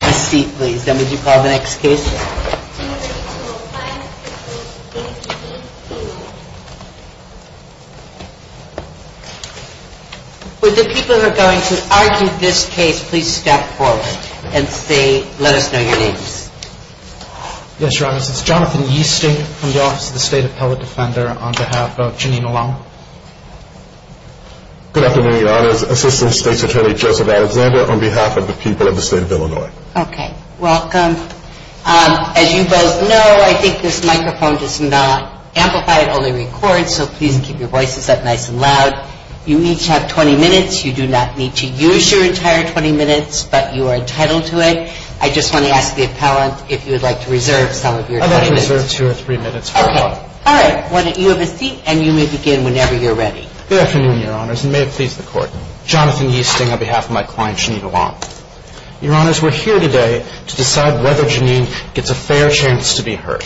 Good afternoon your honors, Assistant State's Attorney Joseph Alexander on behalf of the people of the state of Illinois. Okay, welcome. As you both know, I think this microphone does not amplify, it only records, so please keep your voices up nice and loud. You each have 20 minutes. You do not need to use your entire 20 minutes, but you are entitled to it. I just want to ask the appellant if you would like to reserve some of your time. I'd like to reserve two or three minutes for the court. Okay, all right. You have a seat and you may begin whenever you're ready. Good afternoon your honors, and may it please the court. Jonathan Easting on behalf of my Your honors, we're here today to decide whether Janine gets a fair chance to be heard.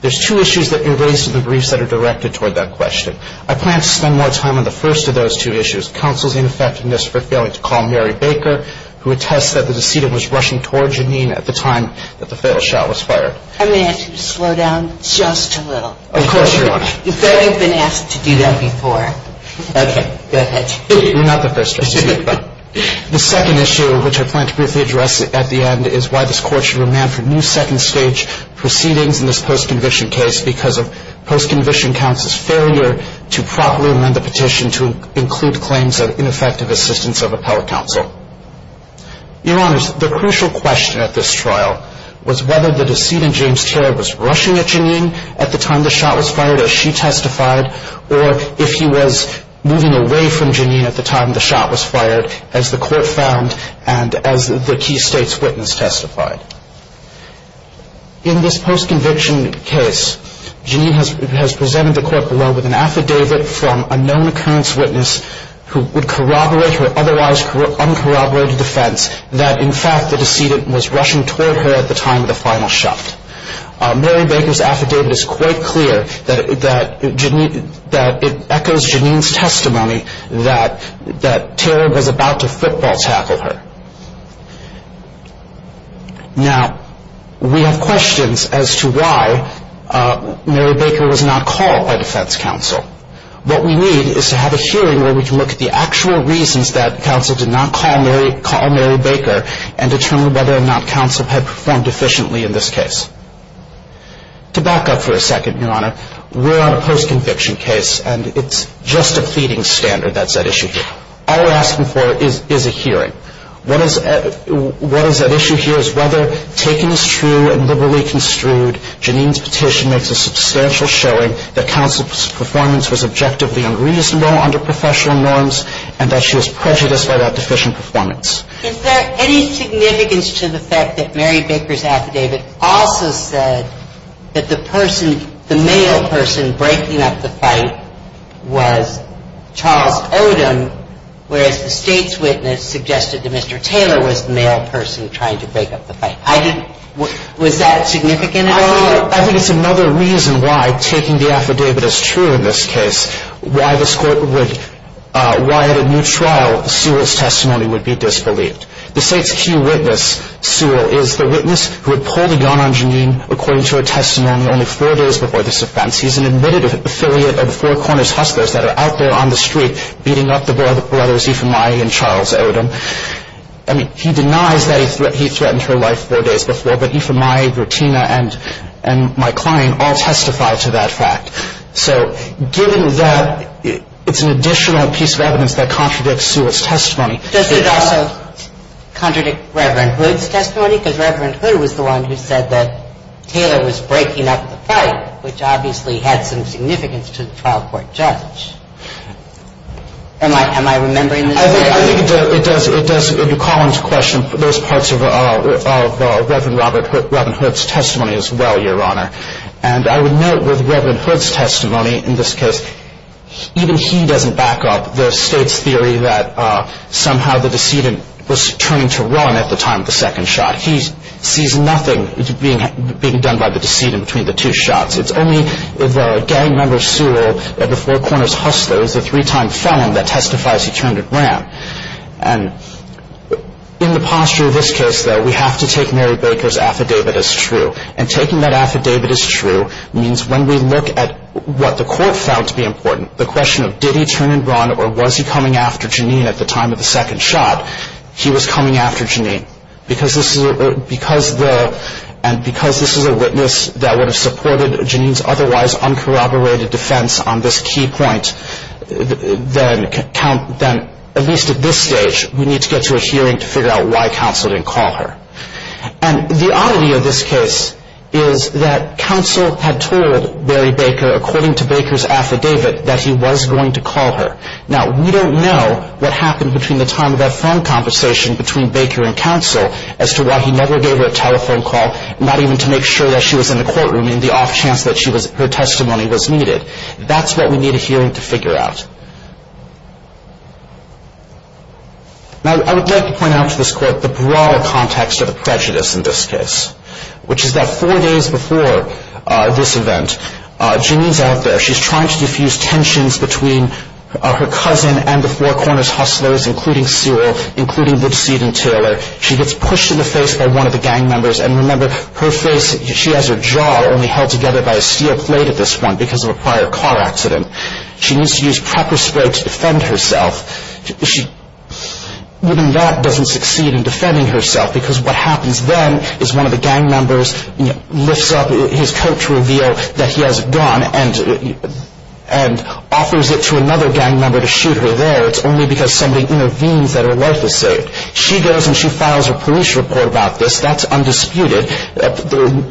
There's two issues that you raised in the briefs that are directed toward that question. I plan to spend more time on the first of those two issues, counsel's ineffectiveness for failing to call Mary Baker, who attests that the decedent was rushing toward Janine at the time that the fatal shot was fired. I may ask you to slow down just a little. Of course, your honor. You've already been asked to do that before. Okay, go ahead. You're not the first justice. The second issue, which I plan to briefly address at the end, is why this court should remand for new second stage proceedings in this post-conviction case because of post-conviction counsel's failure to properly amend the petition to include claims of ineffective assistance of appellate counsel. Your honors, the crucial question at this trial was whether the decedent, James Terry, was rushing at Janine at the time the shot was fired, as she testified, or if he was moving away from Janine at the time the shot was fired, as the court found and as the key state's witness testified. In this post-conviction case, Janine has presented the court below with an affidavit from a known occurrence witness who would corroborate her otherwise uncorroborated defense that in fact the decedent was rushing toward her at the time of the final shot. Mary Baker's affidavit is quite clear that it echoes Janine's testimony that Terry was about to football tackle her. Now, we have questions as to why Mary Baker was not called by defense counsel. What we need is to have a hearing where we can look at the actual reasons that counsel did not call Mary Baker and determine whether or not counsel had performed efficiently in this case. To back up for a second, Your Honor, we're on a post-conviction case, and it's just a pleading standard that's at issue here. All we're asking for is a hearing. What is at issue here is whether, taken as true and liberally construed, Janine's petition makes a substantial showing that counsel's performance was objectively unreasonable under professional norms and that she was prejudiced by that deficient performance. Is there any significance to the fact that Mary Baker's affidavit also said that the person, the male person breaking up the fight was Charles Odom, whereas the state's witness suggested that Mr. Taylor was the male person trying to break up the fight? Was that significant at all? I think it's another reason why taking the affidavit as true in this case, why this Court would, why at a new trial Sewell's testimony would be disbelieved. The state's key witness, Sewell, is the witness who had pulled a gun on Janine according to her testimony only four days before this offense. He's an admitted affiliate of the Four Corners Hustlers that are out there on the street beating up the brothers Ifemayi and Charles Odom. I mean, he denies that he threatened her life four days before, but Ifemayi, Gratina, and my client all testified to that fact. So given that, it's an additional piece of evidence that contradicts Sewell's testimony. Does it also contradict Reverend Hood's testimony? Because Reverend Hood was the one who said that Taylor was breaking up the fight, which obviously had some significance to the trial court judge. Am I remembering this correctly? I think it does. It does. You call into question those parts of Reverend Hood's testimony as well, Your Honor. And I would note with Reverend Hood's testimony in this case, even he doesn't back up the state's theory that somehow the decedent was turning to run at the time of the second shot. He sees nothing being done by the decedent between the two shots. It's only the gang member Sewell of the Four Corners Hustlers, the three-time felon that testifies he turned and ran. And in the posture of this case, though, we have to take Mary Baker's affidavit as true. And taking that affidavit as true means when we look at what the court found to be important, the question of did he turn and run or was he coming after Janine at the time of the second shot, he was coming after Janine. And because this is a witness that would have supported Janine's otherwise uncorroborated defense on this key point, then at least at this stage we need to get to a hearing to figure out why counsel didn't call her. And the oddity of this case is that counsel had told Mary Baker, according to Baker's affidavit, that he was going to call her. Now, we don't know what happened between the time of that phone conversation between Baker and counsel as to why he never gave her a telephone call, not even to make sure that she was in the courtroom and the off chance that her testimony was needed. That's what we need a hearing to figure out. Now, I would like to point out to this court the broader context of the prejudice in this case, which is that four days before this event, Janine's out there. She's trying to defuse tensions between her cousin and the Four Corners hustlers, including Cyril, including Woodseed and Taylor. She gets pushed in the face by one of the gang members. And remember, her face, she has her jaw only held together by a steel plate at this point because of a prior car accident. She needs to use pepper spray to defend herself. Even that doesn't succeed in defending herself because what happens then is one of the gang members lifts up his coat to reveal that he has a gun and offers it to another gang member to shoot her there. It's only because somebody intervenes that her life is saved. She goes and she files a police report about this. That's undisputed.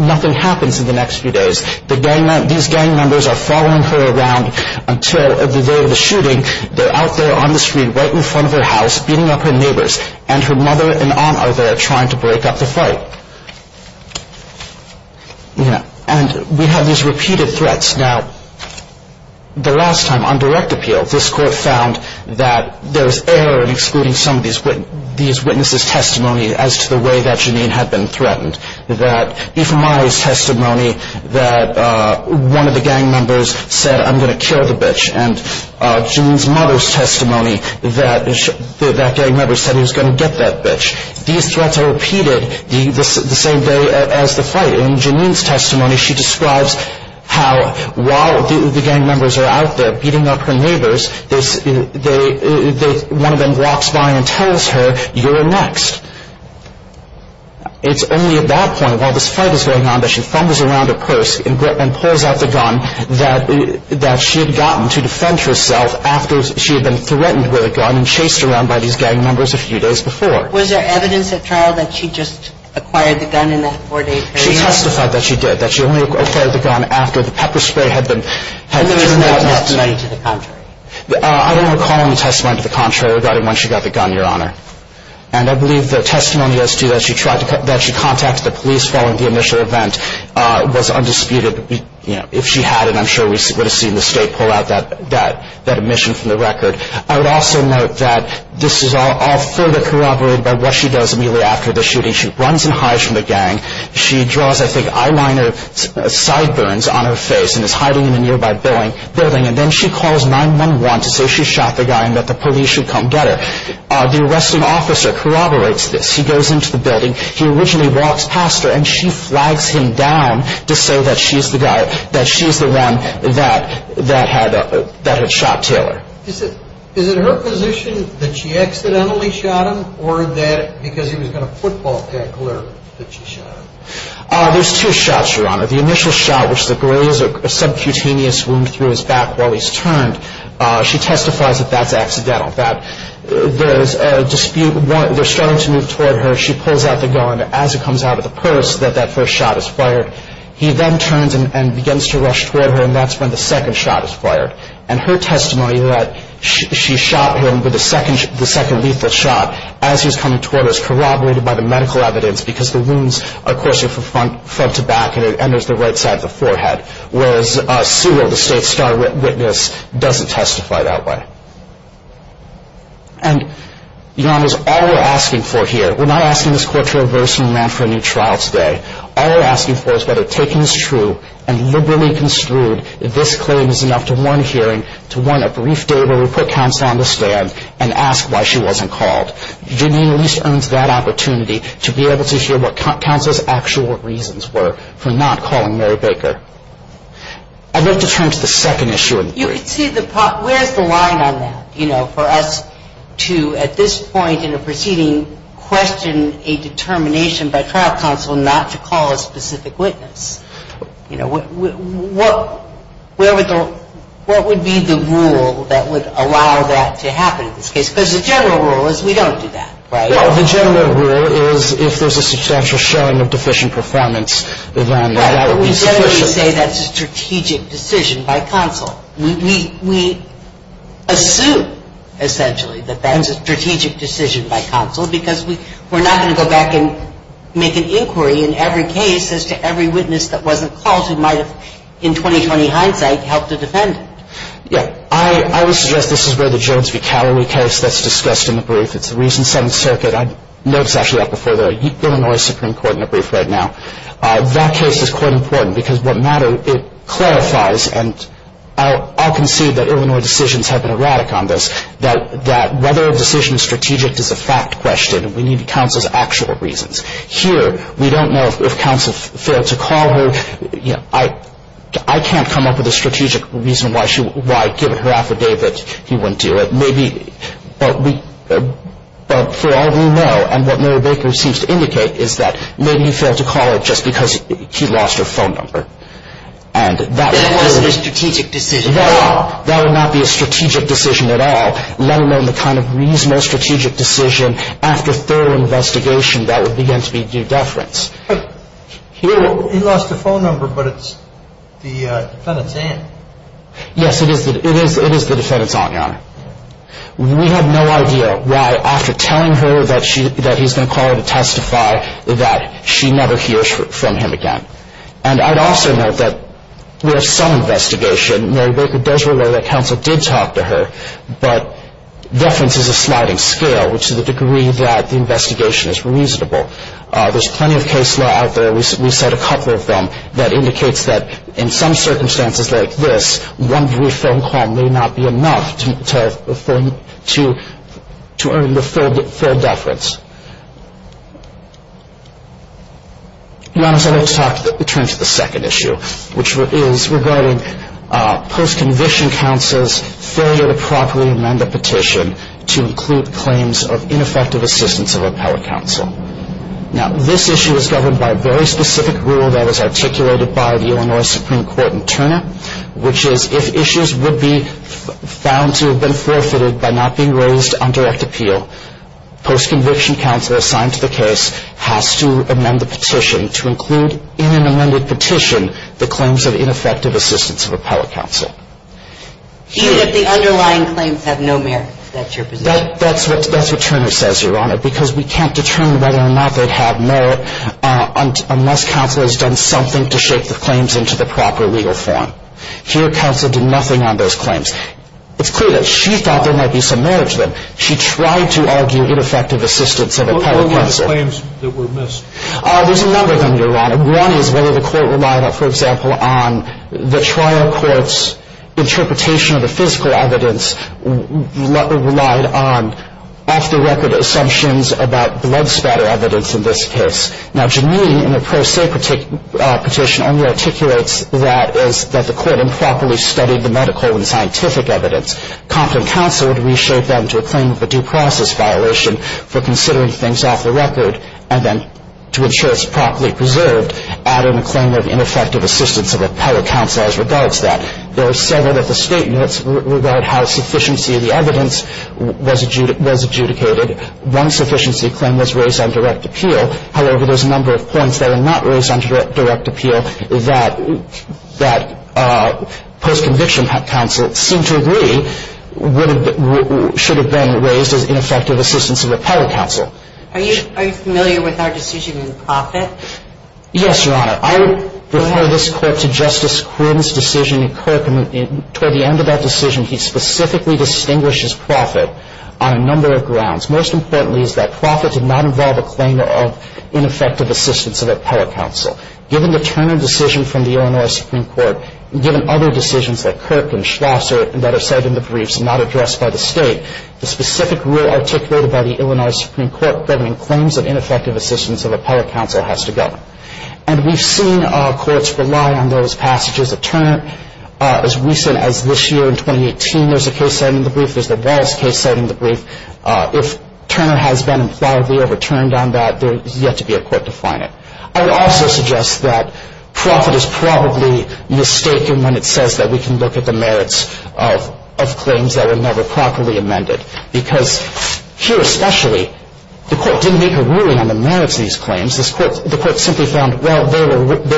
Nothing happens in the next few days. These gang members are following her around until the day of the shooting. They're out there on the street right in front of her house beating up her neighbors, and her mother and aunt are there trying to break up the fight. And we have these repeated threats. Now, the last time on direct appeal, this court found that there was error in excluding some of these witnesses' testimony as to the way that Janine had been threatened, that Ephraim Myers' testimony that one of the gang members said, I'm going to kill the bitch, and Janine's mother's testimony that that gang member said he was going to get that bitch. These threats are repeated the same day as the fight. In Janine's testimony, she describes how while the gang members are out there beating up her neighbors, one of them walks by and tells her, you're next. It's only at that point, while this fight is going on, that she fumbles around her purse and pulls out the gun that she had gotten to defend herself after she had been threatened with a gun and chased around by these gang members a few days before. Was there evidence at trial that she just acquired the gun in that four-day period? She testified that she did, that she only acquired the gun after the pepper spray had been thrown at her. And there was no testimony to the contrary? I don't recall any testimony to the contrary regarding when she got the gun, Your Honor. And I believe the testimony as to that she contacted the police following the initial event was undisputed. If she had, I'm sure we would have seen the state pull out that omission from the record. I would also note that this is all further corroborated by what she does immediately after the shooting. She runs and hides from the gang. She draws, I think, eyeliner sideburns on her face and is hiding in a nearby building. And then she calls 911 to say she shot the guy and that the police should come get her. The arresting officer corroborates this. He goes into the building. He originally walks past her, and she flags him down to say that she's the one that had shot Taylor. Is it her position that she accidentally shot him or that because he was going to football tag Claire that she shot him? There's two shots, Your Honor. The initial shot, which is a subcutaneous wound through his back while he's turned, she testifies that that's accidental. That there's a dispute. They're starting to move toward her. She pulls out the gun. As it comes out of the purse, that that first shot is fired. He then turns and begins to rush toward her, and that's when the second shot is fired. And her testimony that she shot him with the second lethal shot as he was coming toward her is corroborated by the medical evidence because the wounds are coursing from front to back and it enters the right side of the forehead, whereas Sewell, the state star witness, doesn't testify that way. And, Your Honor, all we're asking for here, we're not asking this court to reverse and run for a new trial today. All we're asking for is whether taking this true and liberally construed that this claim is enough to warrant a hearing, to warrant a brief day where we put counsel on the stand and ask why she wasn't called. But Janine at least earns that opportunity to be able to hear what counsel's actual reasons were for not calling Mary Baker. I'd like to turn to the second issue. You can see the part, where's the line on that? You know, for us to, at this point in the proceeding, question a determination by trial counsel not to call a specific witness. You know, what would be the rule that would allow that to happen in this case? Because the general rule is we don't do that, right? Well, the general rule is if there's a substantial showing of deficient performance, then that would be sufficient. Right, but we generally say that's a strategic decision by counsel. We assume, essentially, that that's a strategic decision by counsel because we're not going to go back and make an inquiry in every case as to every witness that wasn't called who might have, in 20-20 hindsight, helped to defend it. Yeah, I would suggest this is where the Jones v. Calloway case that's discussed in the brief. It's the recent Seventh Circuit. I know it's actually up before the Illinois Supreme Court in a brief right now. That case is quite important because what matters, it clarifies, and I'll concede that Illinois decisions have been erratic on this, that whether a decision is strategic is a fact question, and we need counsel's actual reasons. Here, we don't know if counsel failed to call her. I can't come up with a strategic reason why, given her affidavit, he wouldn't do it. But for all we know, and what Mary Baker seems to indicate, is that maybe he failed to call her just because he lost her phone number. That wasn't a strategic decision. No, that would not be a strategic decision at all, let alone the kind of reasonable strategic decision after thorough investigation that would begin to be due deference. He lost the phone number, but it's the defendant's aunt. Yes, it is the defendant's aunt, Your Honor. We have no idea why, after telling her that he's going to call her to testify, that she never hears from him again. And I'd also note that we have some investigation. Mary Baker does remember that counsel did talk to her, but deference is a sliding scale, which is the degree that the investigation is reasonable. There's plenty of case law out there, we cite a couple of them, that indicates that in some circumstances like this, one brief phone call may not be enough to earn the full deference. Your Honor, so I'd like to turn to the second issue, which is regarding post-conviction counsel's failure to properly amend the petition to include claims of ineffective assistance of appellate counsel. Now, this issue is governed by a very specific rule that was articulated by the Illinois Supreme Court in Turner, which is if issues would be found to have been forfeited by not being raised on direct appeal, post-conviction counsel assigned to the case has to amend the petition to include in an amended petition the claims of ineffective assistance of appellate counsel. Even if the underlying claims have no merit, that's your position? That's what Turner says, Your Honor, because we can't determine whether or not they'd have merit unless counsel has done something to shape the claims into the proper legal form. Here, counsel did nothing on those claims. It's clear that she thought there might be some merit to them. She tried to argue ineffective assistance of appellate counsel. What were the claims that were missed? There's a number of them, Your Honor. One is whether the court relied, for example, on the trial court's interpretation of the physical evidence or relied on off-the-record assumptions about blood spatter evidence in this case. Now, Janine, in her pro se petition, only articulates that the court improperly studied the medical and scientific evidence. Compton counsel would reshape that into a claim of a due process violation for considering things off the record and then, to ensure it's properly preserved, add in a claim of ineffective assistance of appellate counsel as regards that. There are several other statements regarding how sufficiency of the evidence was adjudicated. One sufficiency claim was raised on direct appeal. However, there's a number of points that are not raised on direct appeal that post-conviction counsel seemed to agree should have been raised as ineffective assistance of appellate counsel. Are you familiar with our decision in Profitt? Yes, Your Honor. Go ahead. I refer this court to Justice Quinn's decision in Kirk. Toward the end of that decision, he specifically distinguished Profitt on a number of grounds. Most importantly is that Profitt did not involve a claim of ineffective assistance of appellate counsel. Given the Turner decision from the Illinois Supreme Court, given other decisions like Kirk and Schlosser that are cited in the briefs and not addressed by the State, the specific rule articulated by the Illinois Supreme Court governing claims of ineffective assistance of appellate counsel has to govern. And we've seen courts rely on those passages of Turner. As recent as this year, in 2018, there's a case cited in the brief. There's the Wallace case cited in the brief. If Turner has been impliedly overturned on that, there is yet to be a court to find it. I would also suggest that Profitt is probably mistaken when it says that we can look at the merits of claims that were never properly amended. Because here especially, the court didn't make a ruling on the merits of these claims. The court simply found, well, they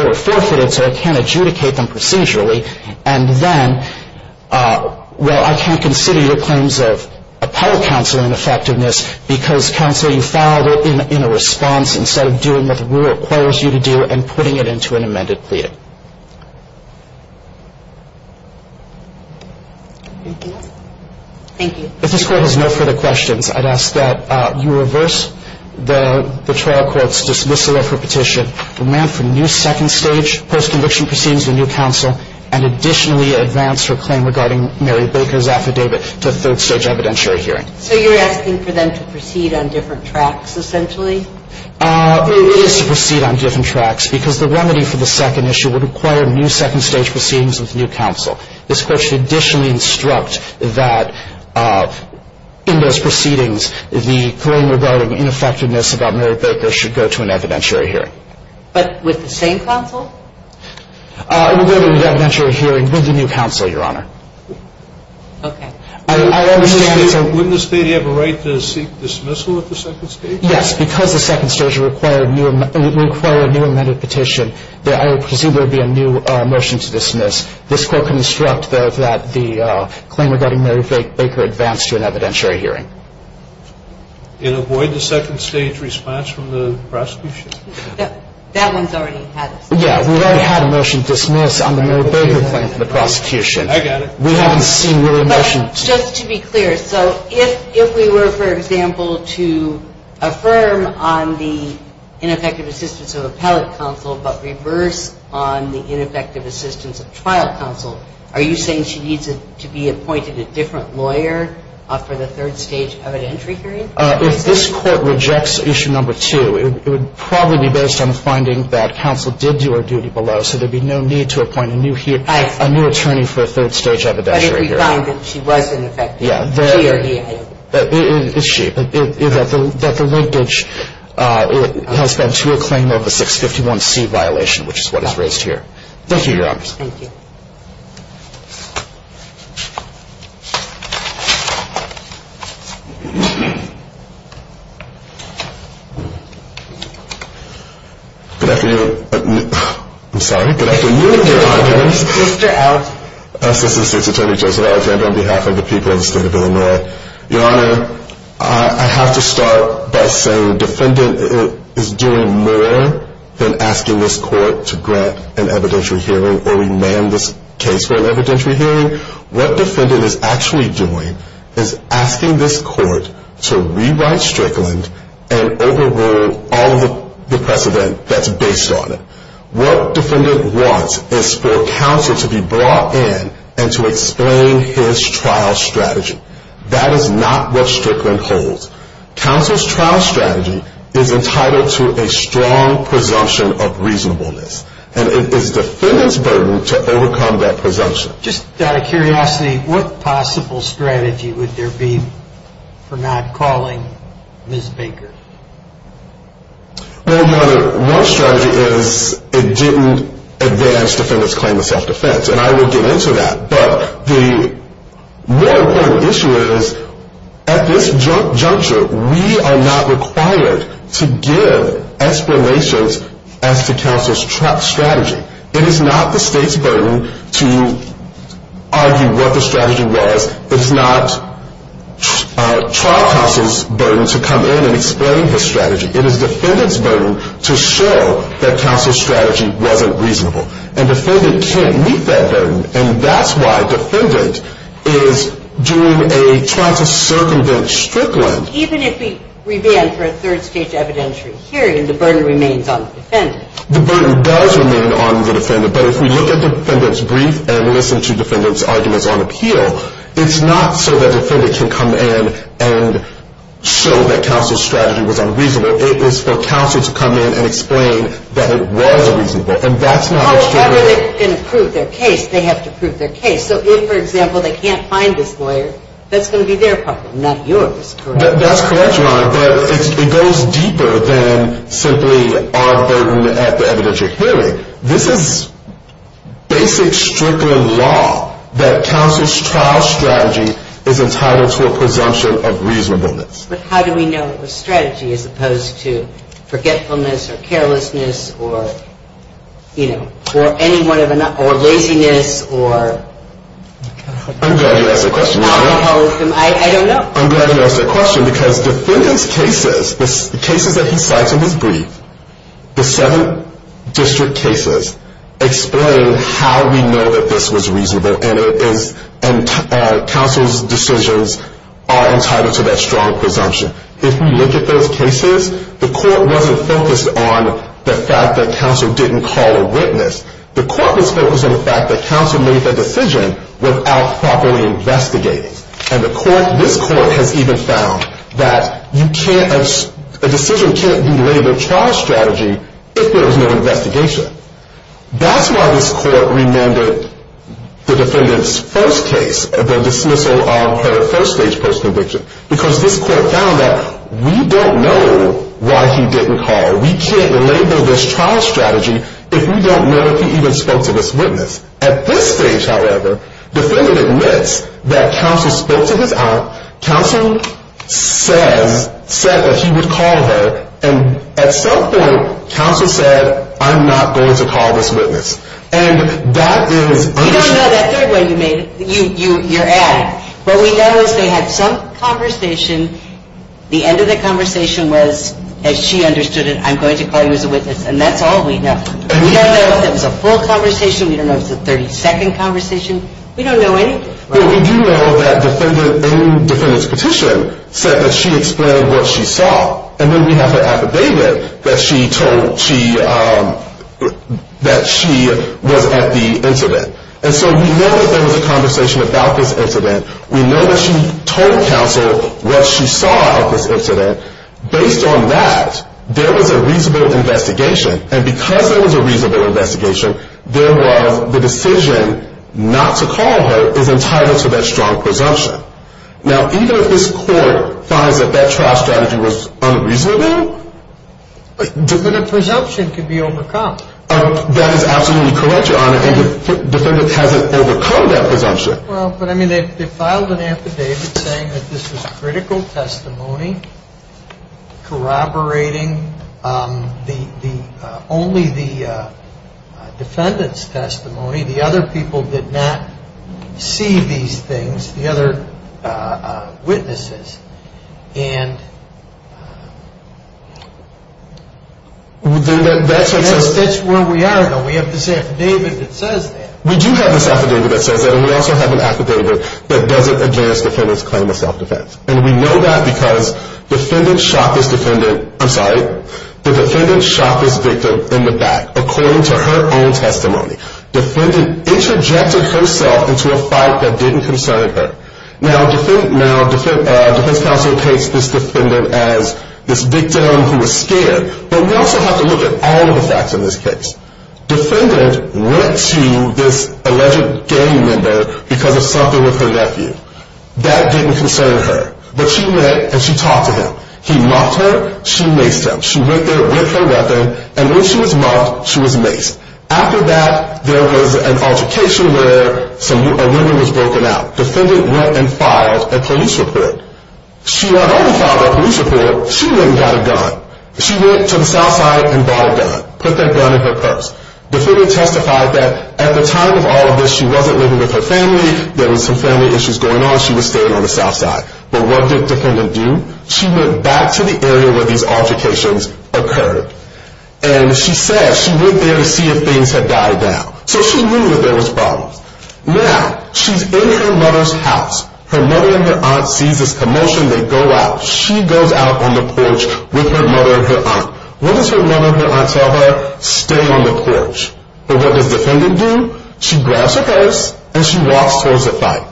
were forfeited, so I can't adjudicate them procedurally. And then, well, I can't consider your claims of appellate counsel ineffectiveness because, counsel, you filed it in a response instead of doing what the rule requires you to do and putting it into an amended plea. Thank you. If this court has no further questions, I'd ask that you reverse the trial court's dismissal of her petition. How does the court make the decision that the remand for new second-stage post-conviction proceedings with new counsel and additionally advance her claim regarding Mary Baker's affidavit to third-stage evidentiary hearing? So you're asking for them to proceed on different tracks essentially? It is to proceed on different tracks because the remedy for the second issue would require new second-stage proceedings with new counsel. This court should additionally instruct that in those proceedings the claim regarding ineffectiveness about Mary Baker should go to an evidentiary hearing. But with the same counsel? It would go to an evidentiary hearing with the new counsel, Your Honor. Okay. I understand it's a... Wouldn't the state have a right to seek dismissal at the second stage? Yes, because the second stage would require a new amended petition, there would presumably be a new motion to dismiss. This court can instruct that the claim regarding Mary Baker advance to an evidentiary hearing. And avoid the second-stage response from the prosecution? That one's already had it. Yeah, we already had a motion to dismiss on the Mary Baker claim from the prosecution. I got it. We haven't seen really a motion... ...to affirm on the ineffective assistance of appellate counsel but reverse on the ineffective assistance of trial counsel. Are you saying she needs to be appointed a different lawyer for the third-stage evidentiary hearing? If this court rejects issue number two, it would probably be based on finding that counsel did do her duty below, so there would be no need to appoint a new attorney for a third-stage evidentiary hearing. But if we find that she was ineffective, she or he, I don't know. It's she. That the linkage has been to a claim of a 651C violation, which is what is raised here. Thank you, Your Honor. Thank you. Good afternoon. I'm sorry, good afternoon, Your Honor. Mr. Alton. Assistant State's Attorney Joseph Alton on behalf of the people of the state of Illinois. Your Honor, I have to start by saying the defendant is doing more than asking this court to grant an evidentiary hearing or remand this case for an evidentiary hearing. What the defendant is actually doing is asking this court to rewrite Strickland and overrule all of the precedent that's based on it. What defendant wants is for counsel to be brought in and to explain his trial strategy. That is not what Strickland holds. Counsel's trial strategy is entitled to a strong presumption of reasonableness, and it is defendant's burden to overcome that presumption. Just out of curiosity, what possible strategy would there be for not calling Ms. Baker? Well, Your Honor, one strategy is it didn't advance defendant's claim of self-defense, and I will get into that. But the more important issue is at this juncture, we are not required to give explanations as to counsel's strategy. It is not the state's burden to argue what the strategy was. It's not trial counsel's burden to come in and explain his strategy. It is defendant's burden to show that counsel's strategy wasn't reasonable. And defendant can't meet that burden, and that's why defendant is doing a trial to circumvent Strickland. Even if we remand for a third-stage evidentiary hearing, the burden remains on the defendant. The burden does remain on the defendant. But if we look at defendant's brief and listen to defendant's arguments on appeal, it's not so that defendant can come in and show that counsel's strategy was unreasonable. It is for counsel to come in and explain that it was reasonable, and that's not what Strickland does. Oh, but if they're going to prove their case, they have to prove their case. So if, for example, they can't find this lawyer, that's going to be their problem, not yours. That's correct, Your Honor, but it goes deeper than simply our burden at the evidentiary hearing. This is basic Strickland law that counsel's trial strategy is entitled to a presumption of reasonableness. But how do we know it was strategy as opposed to forgetfulness or carelessness or, you know, or any one of the – or laziness or – I'm glad you asked that question, Your Honor. I don't know. I'm glad you asked that question because defendant's cases, the cases that he cites in his brief, the seven district cases explain how we know that this was reasonable, and it is – and counsel's decisions are entitled to that strong presumption. If we look at those cases, the court wasn't focused on the fact that counsel didn't call a witness. The court was focused on the fact that counsel made the decision without properly investigating. And the court – this court has even found that you can't – a decision can't be labeled trial strategy if there was no investigation. That's why this court remanded the defendant's first case, the dismissal of her first stage post-conviction, because this court found that we don't know why he didn't call. We can't label this trial strategy if we don't know if he even spoke to this witness. At this stage, however, defendant admits that counsel spoke to his aunt. Counsel says – said that he would call her. And at some point, counsel said, I'm not going to call this witness. And that is – You don't know that third way you made it. You're adding. What we know is they had some conversation. The end of the conversation was, as she understood it, I'm going to call you as a witness. And that's all we know. We don't know if it was a full conversation. We don't know if it was a 30-second conversation. We don't know anything. Well, we do know that defendant – in defendant's petition said that she explained what she saw. And then we have her affidavit that she told she – that she was at the incident. And so we know that there was a conversation about this incident. We know that she told counsel what she saw at this incident. Based on that, there was a reasonable investigation. And because there was a reasonable investigation, there was the decision not to call her is entitled to that strong presumption. Now, even if this court finds that that trial strategy was unreasonable – Defendant presumption can be overcome. That is absolutely correct, Your Honor. And the defendant hasn't overcome that presumption. Well, but, I mean, they filed an affidavit saying that this was critical testimony corroborating only the defendant's testimony. The other people did not see these things, the other witnesses. And that's where we are, though. We have this affidavit that says that. We do have this affidavit that says that. And we also have an affidavit that doesn't advance defendant's claim of self-defense. And we know that because the defendant shot this victim in the back, according to her own testimony. Defendant interjected herself into a fight that didn't concern her. Now, defense counsel takes this defendant as this victim who was scared. But we also have to look at all of the facts in this case. Defendant went to this alleged gang member because of something with her nephew. That didn't concern her. But she met and she talked to him. He mocked her. She maced him. She went there with her weapon. And when she was mocked, she was maced. After that, there was an altercation where a weapon was broken out. Defendant went and filed a police report. She not only filed a police report, she went and got a gun. She went to the South Side and bought a gun, put that gun in her purse. Defendant testified that at the time of all of this, she wasn't living with her family. There was some family issues going on. She was staying on the South Side. But what did defendant do? She went back to the area where these altercations occurred. And she said she went there to see if things had died down. So she knew that there was problems. Now, she's in her mother's house. Her mother and her aunt sees this commotion. They go out. She goes out on the porch with her mother and her aunt. What does her mother and her aunt tell her? Stay on the porch. But what does defendant do? She grabs her purse and she walks towards the fight.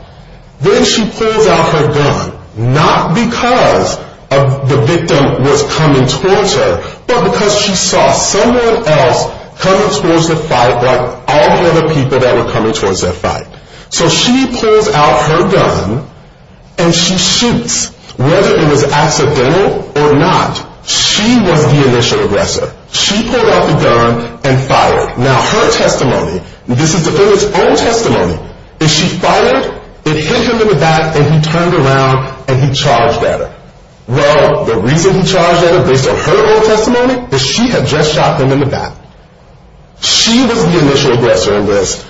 Then she pulls out her gun, not because the victim was coming towards her, but because she saw someone else coming towards the fight, like all the other people that were coming towards that fight. So she pulls out her gun and she shoots. Whether it was accidental or not, she was the initial aggressor. She pulled out the gun and fired. Now, her testimony, this is defendant's own testimony, is she fired, it hit him in the back, and he turned around and he charged at her. Well, the reason he charged at her, based on her own testimony, is she had just shot him in the back. She was the initial aggressor in this.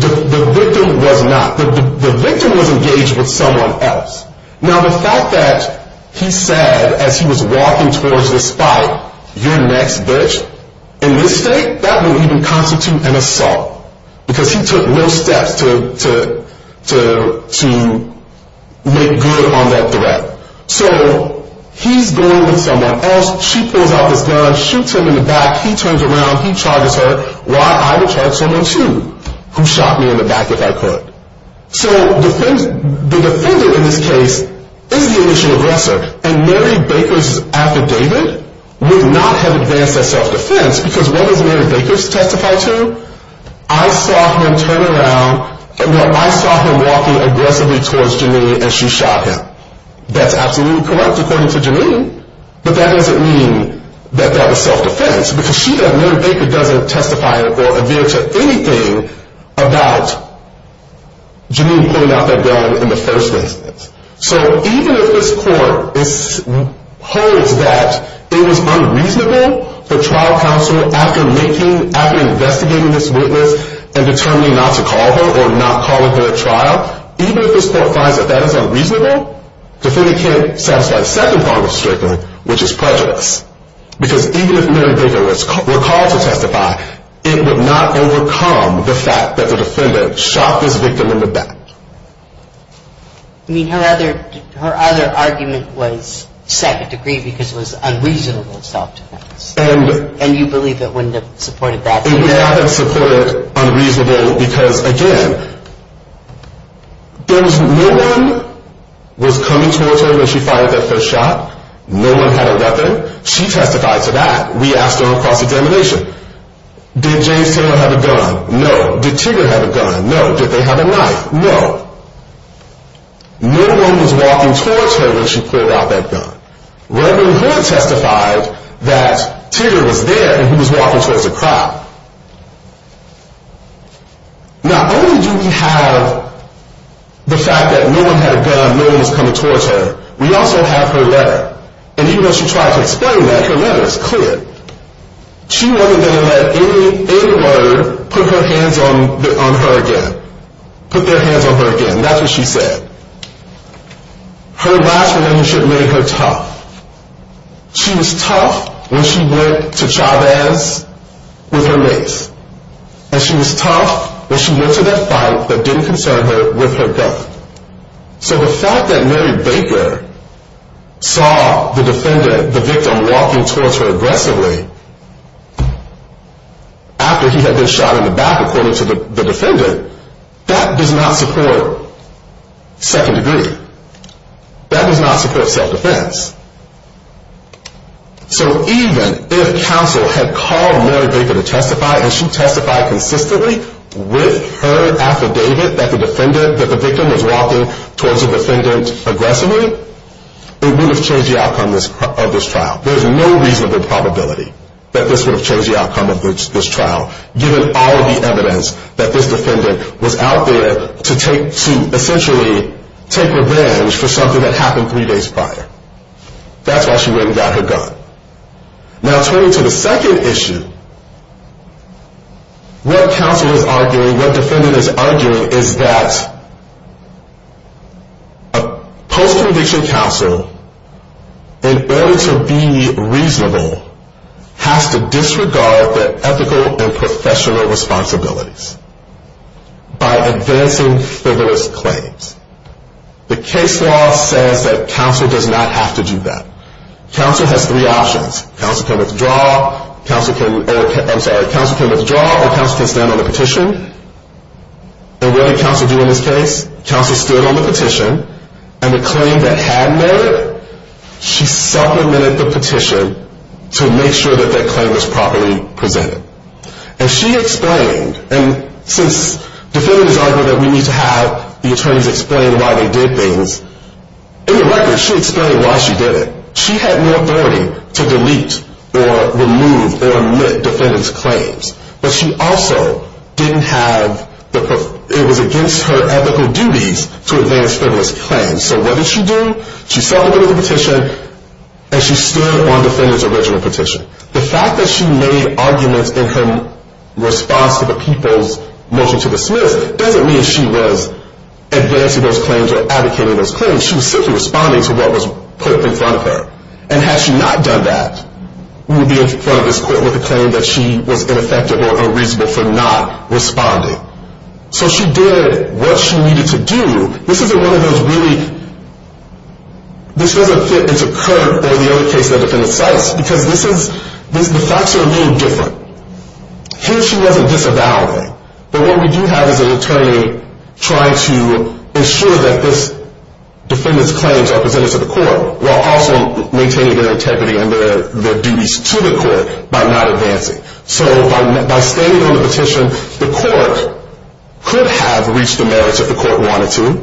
The victim was not. The victim was engaged with someone else. Now, the fact that he said, as he was walking towards this fight, you're next, bitch, in this state, that would even constitute an assault because he took no steps to make good on that threat. So he's going with someone else. She pulls out this gun, shoots him in the back. He turns around. He charges her. Why? I would charge someone, too, who shot me in the back if I could. So the defendant, in this case, is the initial aggressor. And Mary Baker's affidavit would not have advanced that self-defense because what does Mary Baker testify to? I saw him turn around. Well, I saw him walking aggressively towards Janine, and she shot him. That's absolutely correct, according to Janine, but that doesn't mean that that was self-defense because she, that Mary Baker, doesn't testify or adhere to anything about Janine pulling out that gun in the first instance. So even if this court holds that it was unreasonable for trial counsel, after making, after investigating this witness and determining not to call her or not calling her at trial, even if this court finds that that is unreasonable, the defendant can't satisfy the second form of strickling, which is prejudice, because even if Mary Baker were called to testify, it would not overcome the fact that the defendant shot this victim in the back. I mean, her other argument was second degree because it was unreasonable self-defense. And you believe it wouldn't have supported that? It would not have supported unreasonable because, again, there was no one was coming towards her when she fired that first shot. No one had a weapon. She testified to that. We asked her on cross-examination. Did James Taylor have a gun? No. Did Tigard have a gun? No. Did he have a knife? No. No one was walking towards her when she pulled out that gun. Reverend Hood testified that Tigard was there and he was walking towards the crowd. Not only do we have the fact that no one had a gun, no one was coming towards her, we also have her letter. And even though she tried to explain that, her letter is clear. She wasn't going to let any murder put their hands on her again. That's what she said. Her last relationship made her tough. She was tough when she went to Chavez with her mace, and she was tough when she went to that fight that didn't concern her with her gun. So the fact that Mary Baker saw the defendant, the victim, walking towards her aggressively after he had been shot in the back, according to the defendant, that does not support second degree. That does not support self-defense. So even if counsel had called Mary Baker to testify, and she testified consistently with her affidavit that the victim was walking towards the defendant aggressively, it would have changed the outcome of this trial. There's no reasonable probability that this would have changed the outcome of this trial, given all of the evidence that this defendant was out there to essentially take revenge for something that happened three days prior. That's why she went and got her gun. Now, turning to the second issue, what counsel is arguing, what defendant is arguing, is that a post-conviction counsel, in order to be reasonable, has to disregard their ethical and professional responsibilities by advancing frivolous claims. The case law says that counsel does not have to do that. Counsel has three options. Counsel can withdraw, or counsel can stand on the petition. And what did counsel do in this case? Counsel stood on the petition, and the claim that had Mary, she supplemented the petition to make sure that that claim was properly presented. And she explained, and since defendants argue that we need to have the attorneys explain why they did things, in the record, she explained why she did it. She had no authority to delete or remove or omit defendants' claims. But she also didn't have the, it was against her ethical duties to advance frivolous claims. So what did she do? She supplemented the petition, and she stood on the defendant's original petition. The fact that she made arguments in her response to the people's motion to dismiss doesn't mean she was advancing those claims or advocating those claims. She was simply responding to what was put in front of her. And had she not done that, we would be in front of this court with a claim that she was ineffective or unreasonable for not responding. So she did what she needed to do. This isn't one of those really, this doesn't fit into Kirk or the other cases that defendants cite, because this is, the facts are a little different. Here she wasn't disavowing. But what we do have is an attorney trying to ensure that this defendant's claims are presented to the court, while also maintaining their integrity and their duties to the court by not advancing. So by standing on the petition, the court could have reached the merits if the court wanted to,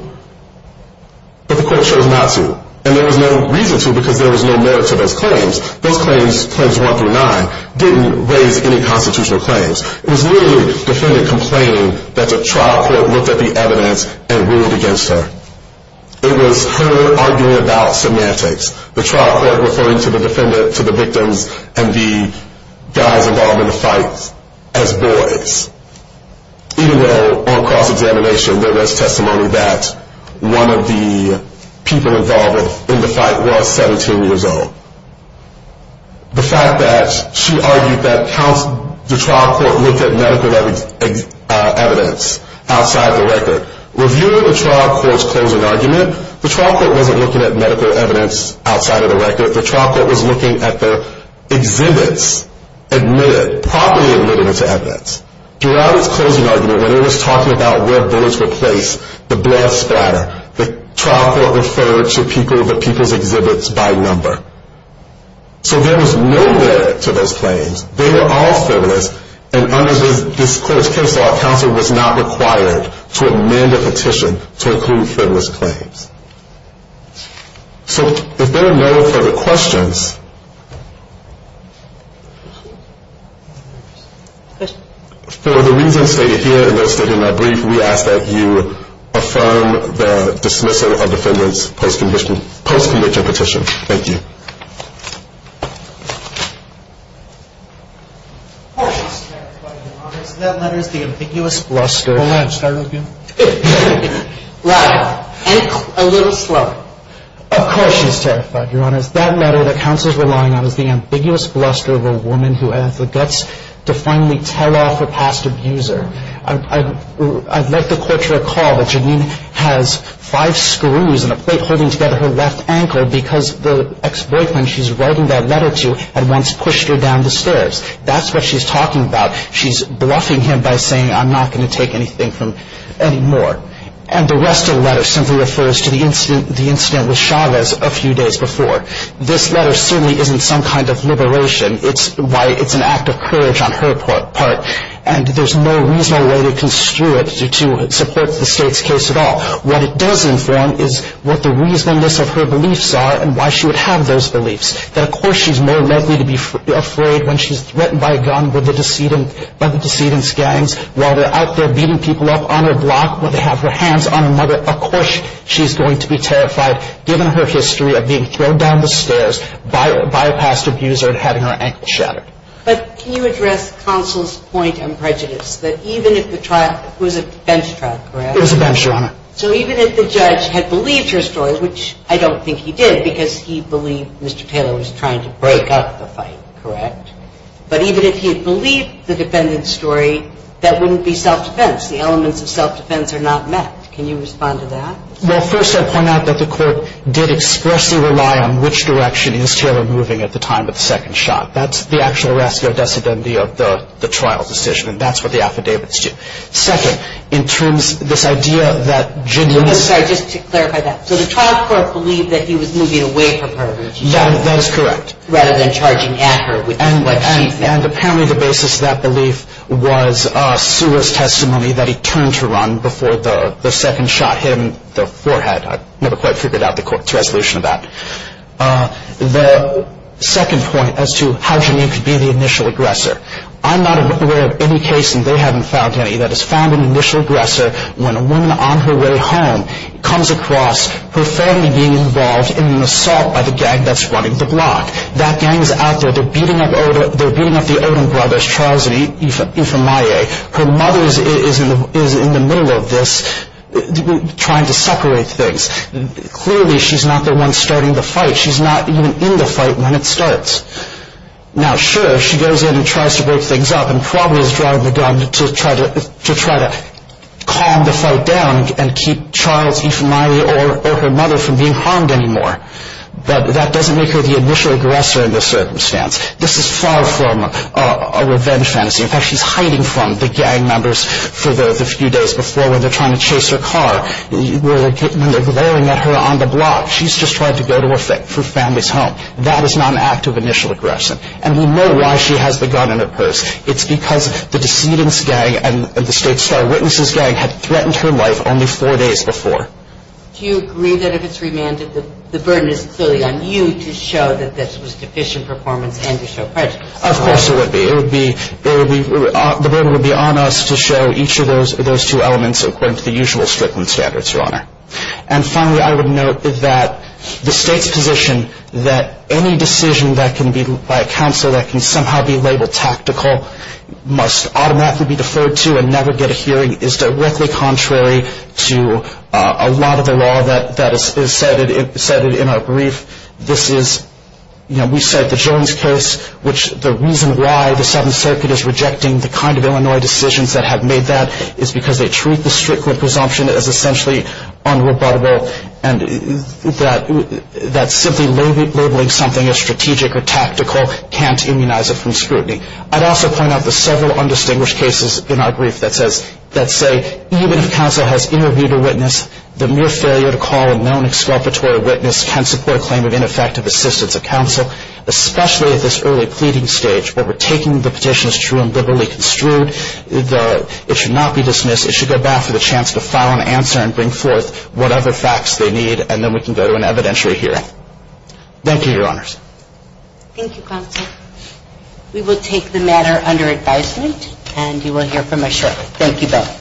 but the court chose not to. And there was no reason to, because there was no merit to those claims. Those claims, claims one through nine, didn't raise any constitutional claims. It was literally the defendant complaining that the trial court looked at the evidence and ruled against her. It was her arguing about semantics. The trial court referring to the defendant, to the victims, and the guys involved in the fight as boys. Even though on cross-examination there was testimony that one of the people involved in the fight was 17 years old. The fact that she argued that the trial court looked at medical evidence outside the record. Reviewing the trial court's closing argument, the trial court wasn't looking at medical evidence outside of the record. The trial court was looking at the exhibits admitted, properly admitted to evidence. Throughout its closing argument, when it was talking about where bullets were placed, the blood splattered. The trial court referred to people's exhibits by number. So there was no merit to those claims. They were all frivolous, and under this case law, counsel was not required to amend a petition to include frivolous claims. So if there are no further questions, for the reasons stated here and those stated in our brief, we ask that you affirm the dismissal of the defendant's post-conviction petition. Thank you. Of course she's terrified, Your Honor. That letter is the ambiguous bluster of a woman who has the guts to finally tell off a past abuser. I'd like the court to recall that Janine has five screws and a plate holding together her left ankle because the ex-boyfriend she's writing that letter to had once pushed her down the stairs. That's what she's talking about. She's bluffing him by saying, I'm not going to take anything from any more. And the rest of the letter simply refers to the incident with Chavez a few days before. This letter certainly isn't some kind of liberation. It's an act of courage on her part, and there's no reasonable way to construe it to support the State's case at all. What it does inform is what the reasonableness of her beliefs are and why she would have those beliefs. Of course she's more likely to be afraid when she's threatened by a gun by the decedent's gangs while they're out there beating people up on her block when they have their hands on her mother. Of course she's going to be terrified given her history of being thrown down the stairs by a past abuser and having her ankle shattered. But can you address counsel's point on prejudice, that even if the trial was a bench trial, correct? It was a bench, Your Honor. So even if the judge had believed her story, which I don't think he did, because he believed Mr. Taylor was trying to break up the fight, correct? But even if he had believed the defendant's story, that wouldn't be self-defense. The elements of self-defense are not met. Can you respond to that? Well, first I'd point out that the court did expressly rely on which direction is Taylor moving at the time of the second shot. That's the actual arrest of the decedent of the trial decision, and that's what the affidavits do. Second, in terms of this idea that Janine was- I'm sorry. Just to clarify that. So the trial court believed that he was moving away from her, didn't you, Your Honor? That is correct. Rather than charging at her with what she said. And apparently the basis of that belief was Sewer's testimony that he turned to run before the second shot hit him in the forehead. I've never quite figured out the court's resolution of that. The second point as to how Janine could be the initial aggressor, I'm not aware of any case, and they haven't found any, that has found an initial aggressor when a woman on her way home comes across her family being involved in an assault by the gang that's running the block. That gang is out there. They're beating up the Odom brothers, Charles and Ifemaye. Her mother is in the middle of this, trying to separate things. Clearly she's not the one starting the fight. She's not even in the fight when it starts. Now, sure, she goes in and tries to break things up and probably is driving the gun to try to calm the fight down and keep Charles, Ifemaye, or her mother from being harmed anymore. But that doesn't make her the initial aggressor in this circumstance. This is far from a revenge fantasy. In fact, she's hiding from the gang members for the few days before when they're trying to chase her car, when they're glaring at her on the block. She's just trying to go to her family's home. That is not an act of initial aggression. And we know why she has the gun in her purse. It's because the Decedents gang and the State Star Witnesses gang had threatened her life only four days before. Do you agree that if it's remanded, the burden is clearly on you to show that this was deficient performance and to show prejudice? Of course it would be. The burden would be on us to show each of those two elements according to the usual Strickland standards, Your Honor. And finally, I would note that the State's position that any decision by a counsel that can somehow be labeled tactical must automatically be deferred to and never get a hearing is directly contrary to a lot of the law that is cited in our brief. We cite the Jones case, which the reason why the Seventh Circuit is rejecting the kind of Illinois decisions that have made that is because they treat the Strickland presumption as essentially unrebuttable and that simply labeling something as strategic or tactical can't immunize it from scrutiny. I'd also point out the several undistinguished cases in our brief that say even if counsel has interviewed a witness, the mere failure to call a known exculpatory witness can support a claim of ineffective assistance of counsel, especially at this early pleading stage where we're taking the petition as true and liberally construed. It should not be dismissed. It should go back for the chance to file an answer and bring forth whatever facts they need, and then we can go to an evidentiary hearing. Thank you, Your Honors. Thank you, counsel. We will take the matter under advisement, and you will hear from us shortly. Thank you both.